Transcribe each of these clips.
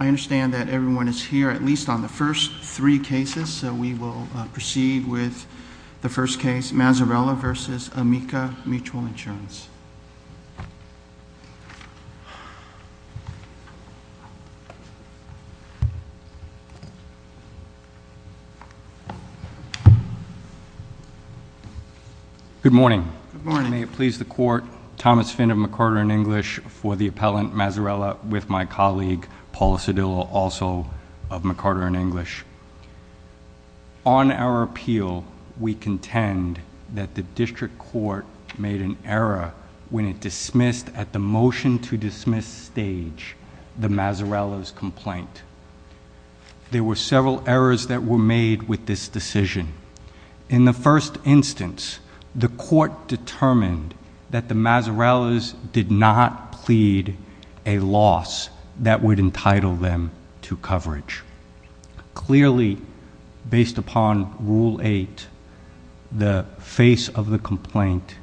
I understand that everyone is here at least on the first three cases, so we will proceed with the first case, Mazzarella v. Amica Mutual Insurance. Good morning. May it please the Court, Thomas Finder-McArthur in English for the appellant Mazzarella with my colleague Paula Cedillo also of McArthur in English. On our appeal, we contend that the District Court made an error when it dismissed at the motion to dismiss stage the Mazzarella's complaint. There were several errors that were made with this decision. In the a loss that would entitle them to coverage. Clearly, based upon Rule 8, the face of the complaint,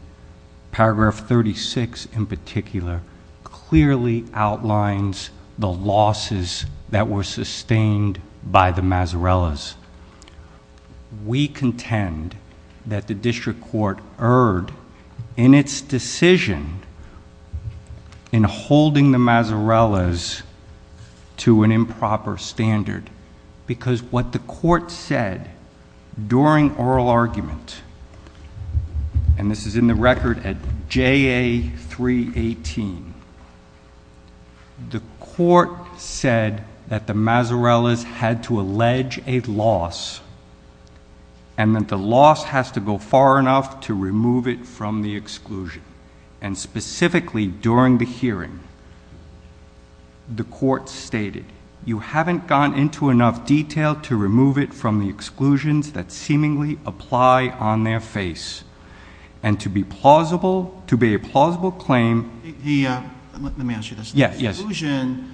paragraph 36 in particular, clearly outlines the losses that were sustained by the Mazzarella's. We contend that the District Court erred in its decision in holding the Mazzarella's to an improper standard because what the court said during oral argument, and this is in the record at JA 318, the court said that the Mazzarella's had to allege a loss and that the loss has to go far enough to remove it from the exclusion. And specifically during the hearing, the court stated you haven't gone into enough detail to remove it from the exclusions that seemingly apply on their face and to be plausible to be a plausible claim. Let me ask you this. The exclusion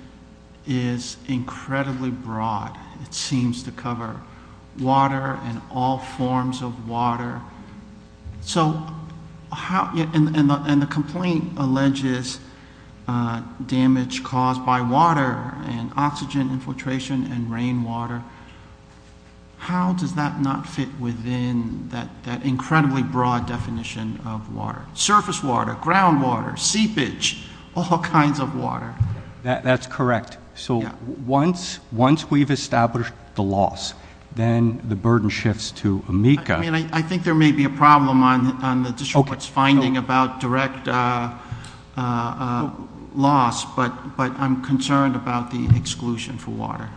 is incredibly broad. It seems to cover water and all forms of water. So how, and the complaint alleges damage caused by water and oxygen infiltration and rainwater. How does that not fit within that incredibly broad definition of water? Surface water, ground water, seepage, all kinds of water. That's correct. So once we've established the loss, then the burden shifts to AMICA. I mean, I think there may be a problem on the District Court's finding about direct loss, but I'm concerned about the exclusion for water.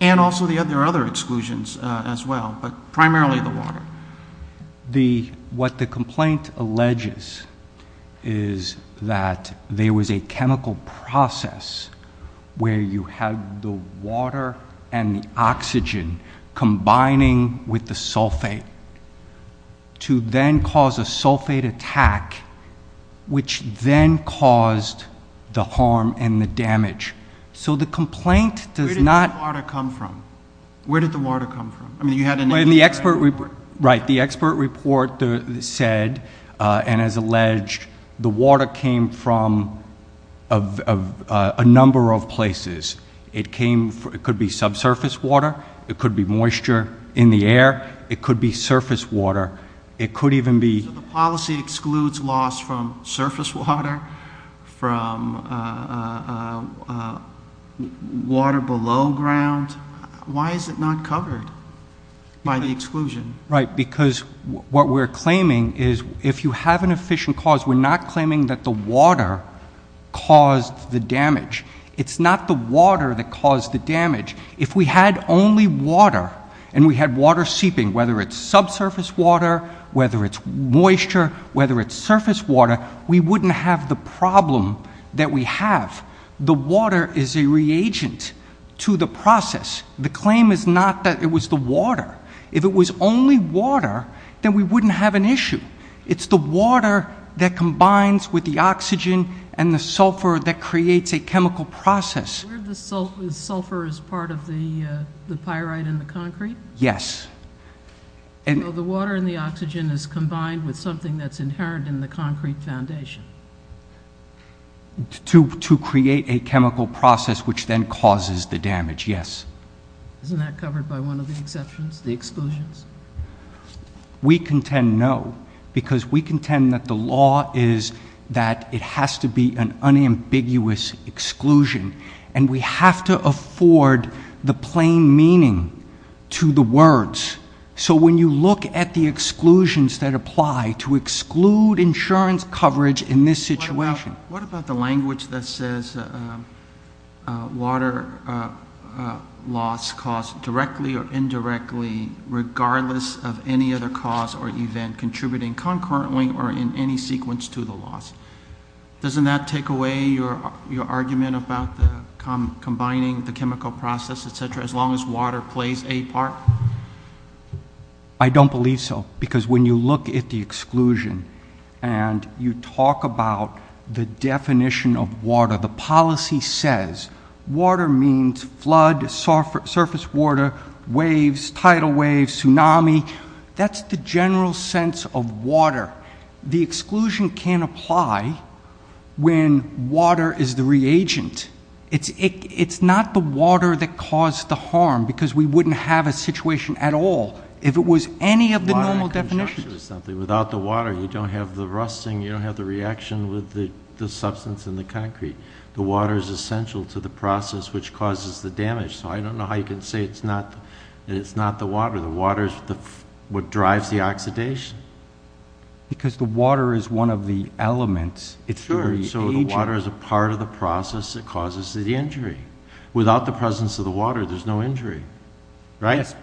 And also there are other exclusions as well, but primarily the water. What the complaint alleges is that there was a chemical process where you have the water and the oxygen combining with the sulfate to then cause a sulfate attack which then caused the harm and the damage. So the complaint does not... Where did the water come from? Where did the water come from? I mean, you had an... Right, the expert report said and has alleged the water came from a number of places. It came, it could be subsurface water, it could be moisture in the air, it could be surface water, it could even be... So the policy excludes loss from surface water, from water below ground. Why is it not covered by the exclusion? Right, because what we're claiming is if you have an efficient cause, we're not claiming that the water caused the damage. It's not the water that caused the damage. If we had only water and we had water seeping, whether it's subsurface water, whether it's moisture, whether it's surface water, we wouldn't have the problem that we have. The water is a reagent to the process. The claim is not that it was the water. If it was only water, then we wouldn't have an issue. It's the water that combines with the oxygen and the sulfur that creates a chemical process. Where the sulfur is part of the the pyrite in the concrete? Yes. And the water and the oxygen is combined with something that's inherent in the to create a chemical process which then causes the damage. Yes. Isn't that covered by one of the exceptions, the exclusions? We contend no, because we contend that the law is that it has to be an unambiguous exclusion and we have to afford the plain meaning to the words. So when you look at the exclusions that apply to exclude insurance coverage in this that says water loss caused directly or indirectly regardless of any other cause or event contributing concurrently or in any sequence to the loss, doesn't that take away your argument about the combining the chemical process, etc., as long as water plays a part? I don't believe so, because when you look at the exclusion and you talk about the definition of water, the policy says water means flood, surface water, waves, tidal waves, tsunami. That's the general sense of water. The exclusion can't apply when water is the reagent. It's not the water that caused the harm, because we wouldn't have a without the water, you don't have the rusting, you don't have the reaction with the substance in the concrete. The water is essential to the process which causes the damage, so I don't know how you can say it's not the water. The water is what drives the oxidation. Because the water is one of the elements. Sure, so the water is a part of the process that causes the injury. Without the presence of the water, there's no injury, right?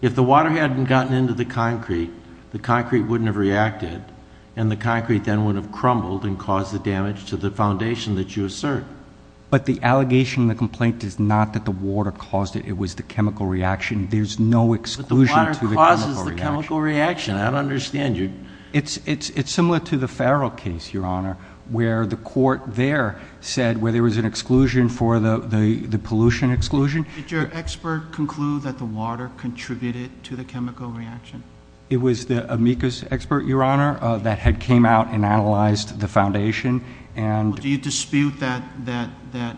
If the water hadn't gotten into the concrete, the concrete wouldn't have reacted, and the concrete then would have crumbled and caused the damage to the foundation that you assert. But the allegation in the complaint is not that the water caused it, it was the chemical reaction. There's no exclusion to the chemical reaction. I don't understand. It's similar to the Farrell case, Your Honor, where the court there said where there was an exclusion for the pollution exclusion. Did your expert conclude that the water contributed to the chemical reaction? It was the amicus expert, Your Honor, that had came out and analyzed the foundation. Do you dispute that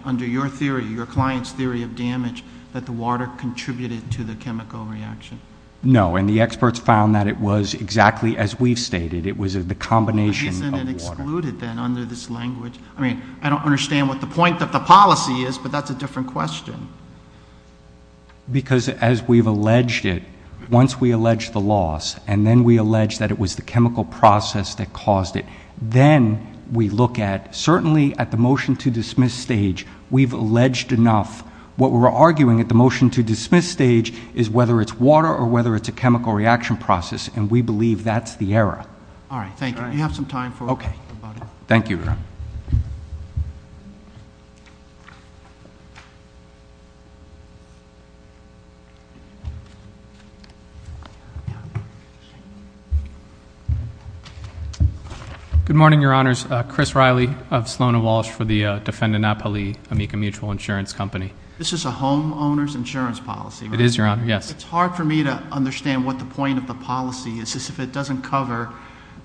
under your theory, your client's theory of damage, that the water contributed to the chemical reaction? No, and the experts found that it was exactly as we've stated. It was the combination of water. Isn't it excluded then under this language? I mean, I don't understand what the point of the policy is, but that's a different question. Because as we've alleged it, once we allege the loss, and then we allege that it was the chemical process that caused it, then we look at, certainly at the motion to dismiss stage, we've alleged enough. What we're arguing at the motion to dismiss stage is whether it's water or whether it's a chemical reaction process, and we believe that's the error. All right, thank you. Do you have some time? Okay. Thank you, Your Honor. Good morning, Your Honors. Chris Riley of Sloan & Walsh for the Defendant Napoli Amica Mutual Insurance Company. This is a homeowner's insurance policy, right? It is, Your Honor, yes. It's hard for me to understand what the point of the policy is if it doesn't cover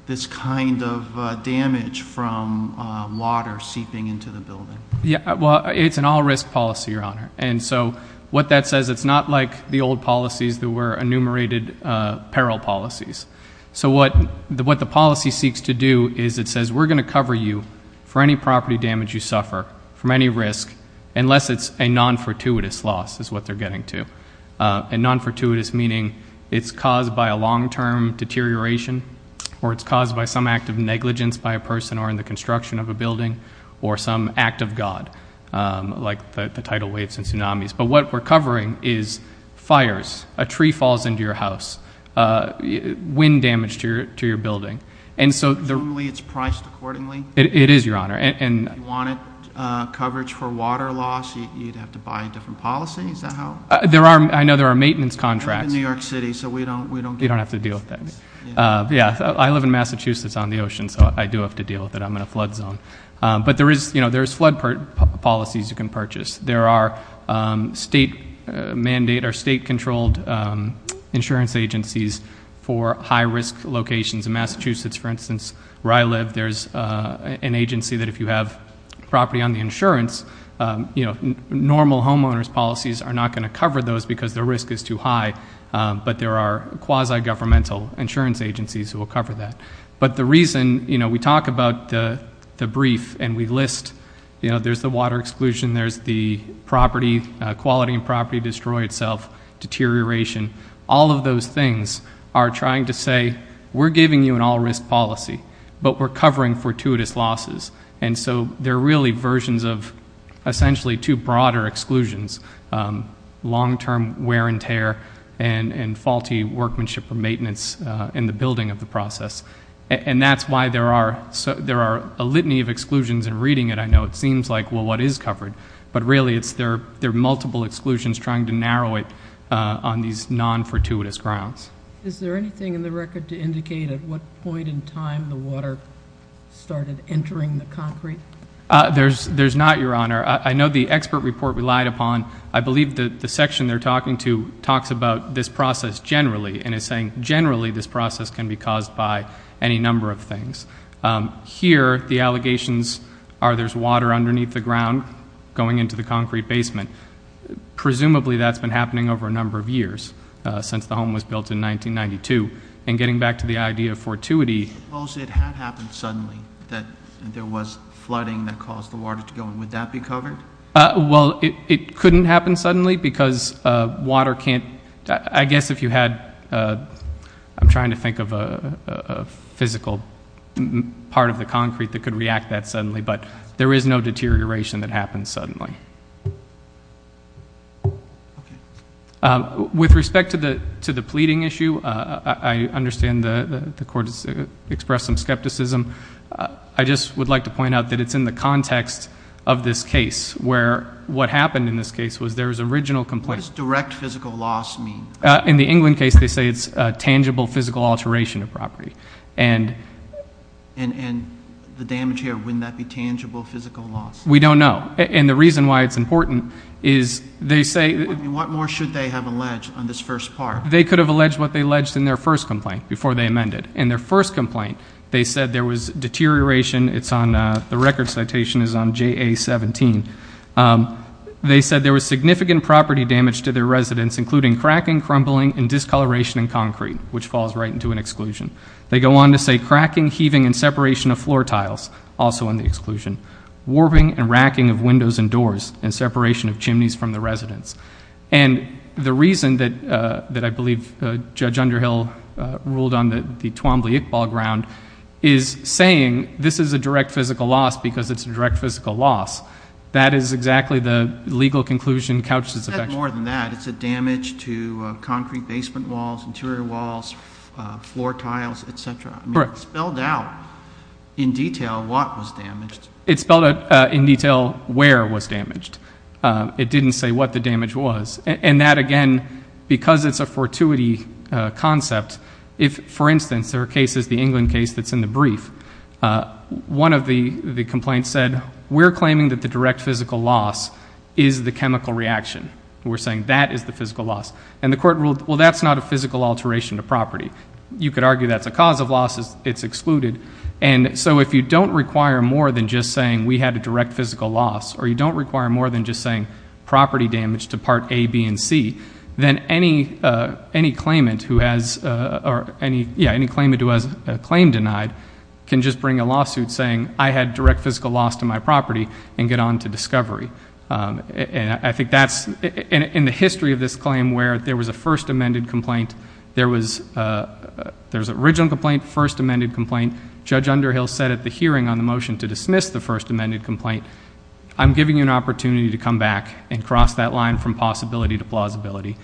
this kind of damage from water seeping into the building. Yeah, well, it's an all-risk policy, Your Honor, and so what that says, it's not like the old policies that were enumerated peril policies. So what the policy seeks to do is it says, we're going to cover you for any property damage you suffer from any risk, unless it's a non-fortuitous loss, is what we're covering is fires, a tree falls into your house, wind damage to your building, and so it's priced accordingly. It is, Your Honor. If you wanted coverage for water loss, you'd have to buy a different policy, is that how? There are, I know there are maintenance contracts. In New York City, so we don't have to deal with that. Yeah, I live in Massachusetts on the ocean, so I do have to deal with it. I'm in a flood zone, but there is, you know, there's flood policies you can purchase. There are state mandate or state-controlled insurance agencies for high-risk locations in Massachusetts. For instance, where I live, there's an agency that if you have property on the insurance, you know, normal homeowner's policies are not going to cover those because the risk is too high, but there are quasi-governmental insurance agencies who will cover that, but the reason, you know, we talk about the brief and we list, you know, there's the water exclusion, there's the property, quality and property destroy itself, deterioration, all of those things are trying to say we're giving you an all-risk policy, but we're covering fortuitous losses, and so they're really versions of essentially two broader exclusions, long-term wear and tear and faulty workmanship or maintenance in the building of the process, and that's why there are a litany of exclusions in reading it. I know it seems like, well, what is covered, but really it's there are multiple exclusions trying to narrow it on these non-fortuitous grounds. Is there anything in the record to indicate at what point in time the water started entering the concrete? There's not, Your Honor. I know the expert report relied upon, I believe that the section they're talking to talks about this process generally and is saying generally this process can be caused by any number of things. Here the allegations are there's water underneath the ground going into the concrete basement. Presumably that's been happening over a number of years since the home was built in 1992, and getting back to the idea of fortuity. Suppose it had happened suddenly that there was flooding that caused the water to go in would that be covered? Well, it couldn't happen suddenly because water can't, I guess if you had, I'm trying to think of a physical part of the concrete that could react that suddenly, but there is no deterioration that happens suddenly. With respect to the to the pleading issue, I understand the court has expressed some skepticism. I just would like to point out that it's in the case where what happened in this case was there was original complaint. What does direct physical loss mean? In the England case they say it's a tangible physical alteration of property. And the damage here, wouldn't that be tangible physical loss? We don't know, and the reason why it's important is they say, what more should they have alleged on this first part? They could have alleged what they alleged in their first complaint before they amended. In their first complaint they said there was deterioration, it's on the record citation is on JA 17. They said there was significant property damage to their residence including cracking, crumbling, and discoloration in concrete, which falls right into an exclusion. They go on to say cracking, heaving, and separation of floor tiles, also in the exclusion. Warping and racking of windows and doors, and separation of chimneys from the residence. And the reason that that I ruled on the Twombly-Iqbal ground is saying this is a direct physical loss because it's a direct physical loss. That is exactly the legal conclusion Couch has affection for. It said more than that. It said damage to concrete basement walls, interior walls, floor tiles, etc. It spelled out in detail what was damaged. It spelled out in detail where was damaged. It didn't say what the damage was. And that again, because it's a concept, if for instance there are cases, the England case that's in the brief, one of the complaints said we're claiming that the direct physical loss is the chemical reaction. We're saying that is the physical loss. And the court ruled well that's not a physical alteration of property. You could argue that's a cause of losses, it's excluded. And so if you don't require more than just saying we had a direct physical loss, or you don't require more than just saying property damage to Part A, B, and C, then any claimant who has, or any, yeah, any claimant who has a claim denied can just bring a lawsuit saying I had direct physical loss to my property and get on to discovery. And I think that's, in the history of this claim where there was a first amended complaint, there was, there's original complaint, first amended complaint. Judge Underhill said at the hearing on the motion to dismiss the first amended complaint, I'm giving you an opportunity to come back and cross that line from possibility to plausibility.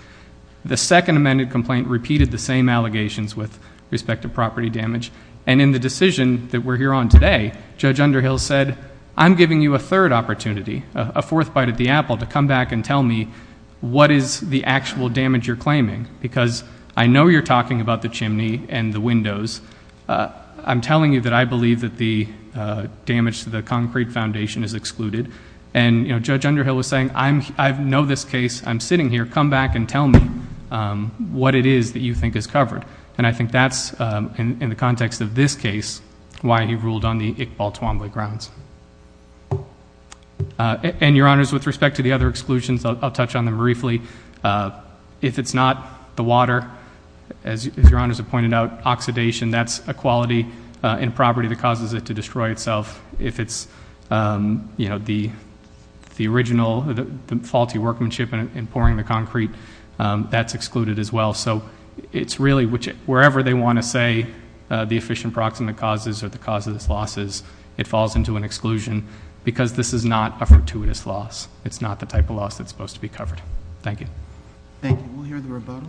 The second amended complaint repeated the same allegations with respect to property damage. And in the decision that we're here on today, Judge Underhill said I'm giving you a third opportunity, a fourth bite at the apple to come back and tell me what is the actual damage you're claiming. Because I know you're talking about the chimney and the windows. I'm telling you that I believe that the damage to the concrete foundation is excluded. And, you know, Judge Underhill was saying I know this case. I'm sitting here. Come back and tell me what it is that you think is covered. And I think that's, in the context of this case, why he ruled on the Iqbal Twombly grounds. And, Your Honors, with respect to the other exclusions, I'll touch on them briefly. If it's not the water, as Your Honors have pointed out, oxidation, that's a property that causes it to destroy itself. If it's, you know, the original, the faulty workmanship in pouring the concrete, that's excluded as well. So it's really, wherever they want to say the efficient proximate causes or the cause of this loss is, it falls into an exclusion because this is not a fortuitous loss. It's not the type of loss that's supposed to be covered. Thank you. Thank you. We'll hear the rebuttal.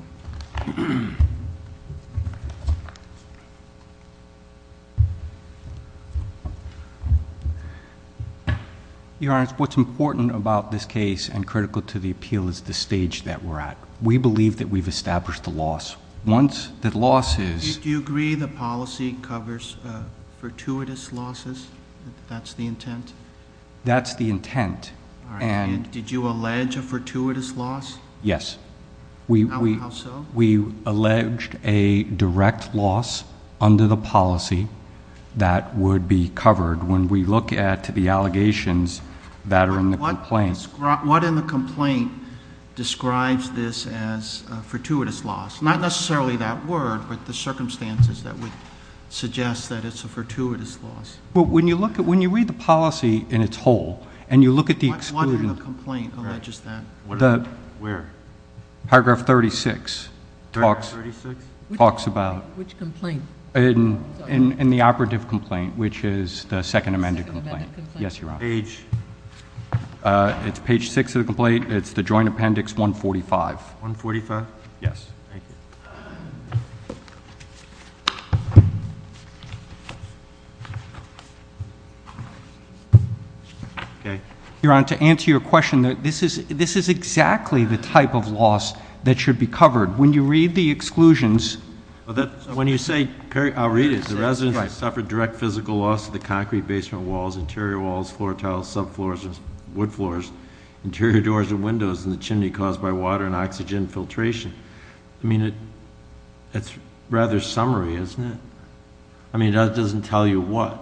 Your Honor, what's important about this case and critical to the appeal is the stage that we're at. We believe that we've established the loss. Once that loss is, do you agree the policy covers fortuitous losses? That's the intent. Did you allege a fortuitous loss? Yes. How so? We allege a direct loss under the policy that would be covered when we look at the allegations that are in the complaint. What in the complaint describes this as a fortuitous loss? Not necessarily that word, but the circumstances that would suggest that it's a fortuitous loss. When you read the policy in its whole, and you look at the exclusion... What in the complaint alleges that? Where? Paragraph 36 talks about... Which complaint? In the operative complaint, which is the second amended complaint. Yes, Your Honor. Page? It's page six of the complaint. It's the joint appendix 145. 145? Yes. Thank you. Okay. Your Honor, to answer your question, this is exactly the type of loss that should be covered. When you read the exclusions... When you say... I'll read it. The residents suffered direct physical loss to the concrete basement walls, interior walls, floor tiles, sub floors, wood floors, interior doors and windows in the chimney caused by water and oxygen filtration. It's rather summary, isn't it? That doesn't tell you what.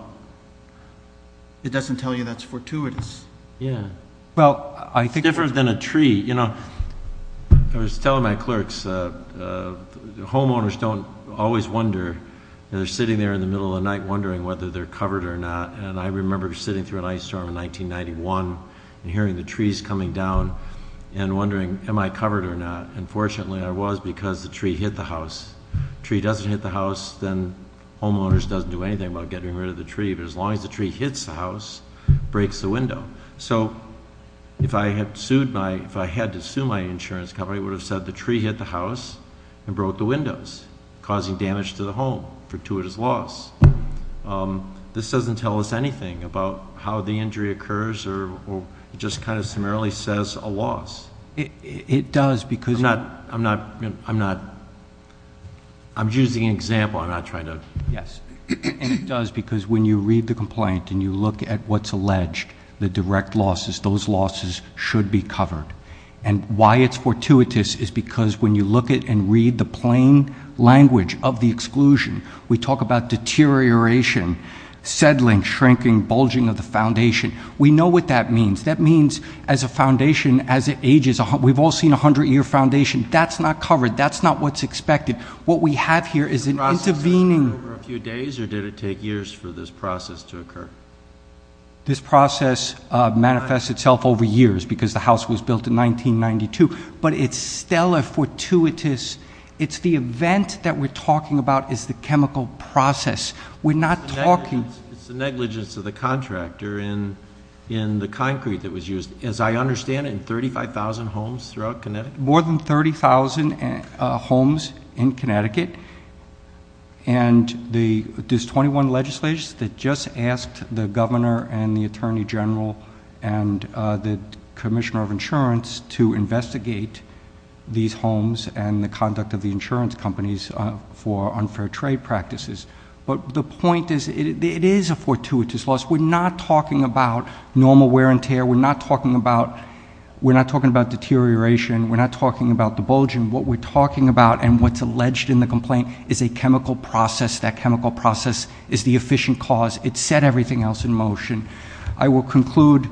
It doesn't tell you that's fortuitous. Yeah. Well, I think... It's different than a tree. I was telling my clerks, homeowners don't always wonder. They're sitting there in the middle of the night wondering whether they're covered or not. I remember sitting through an ice storm in 1991 and hearing the trees coming down and wondering, am I covered or not? And fortunately, I was because the tree hit the house. Tree doesn't hit the house, then homeowners doesn't do anything about getting rid of the tree. But as long as the tree hits the house, breaks the window. So if I had sued my... If I had to sue my insurance company, I would have said the tree hit the house and broke the windows, causing damage to the home, fortuitous loss. This doesn't tell us anything about how the injury occurs or just kind of accidentally says a loss. It does because... I'm not... I'm using an example, I'm not trying to... Yes. And it does because when you read the complaint and you look at what's alleged, the direct losses, those losses should be covered. And why it's fortuitous is because when you look at and read the plain language of the exclusion, we talk about deterioration, settling, shrinking, bulging of the foundation. We know what that means. That means as a foundation, as it ages, we've all seen a 100 year foundation, that's not covered, that's not what's expected. What we have here is an intervening... The process took over a few days or did it take years for this process to occur? This process manifests itself over years because the house was built in 1992, but it's still a fortuitous... It's the event that we're talking about is the chemical process. We're not talking... It's the negligence of the in the concrete that was used, as I understand it, in 35,000 homes throughout Connecticut? More than 30,000 homes in Connecticut. And there's 21 legislators that just asked the governor and the Attorney General and the Commissioner of Insurance to investigate these homes and the conduct of the insurance companies for unfair trade practices. But the point is, it is a fortuitous loss. We're not talking about normal wear and tear. We're not talking about... We're not talking about deterioration. We're not talking about the bulging. What we're talking about and what's alleged in the complaint is a chemical process. That chemical process is the efficient cause. It set everything else in motion. I will conclude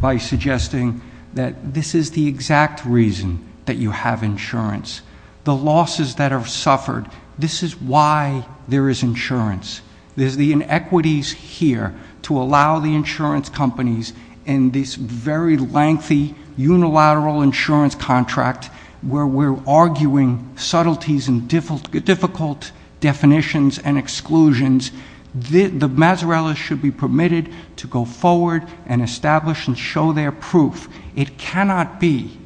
by suggesting that this is the exact reason that you have insurance. The losses that are suffered, this is why there is insurance. There's the inequities here to allow the insurance companies in this very lengthy unilateral insurance contract where we're arguing subtleties and difficult definitions and exclusions. The Mazzarellas should be permitted to go forward and establish and show their proof. It cannot be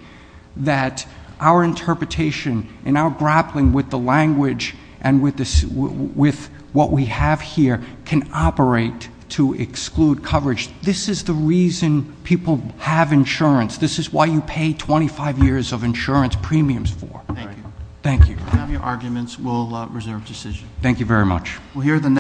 that our interpretation and our grappling with the language and with what we have here can operate to exclude coverage. This is the reason people have insurance. This is why you pay 25 years of insurance premiums for. Thank you. Thank you. We have your arguments. We'll reserve decision. Thank you very much.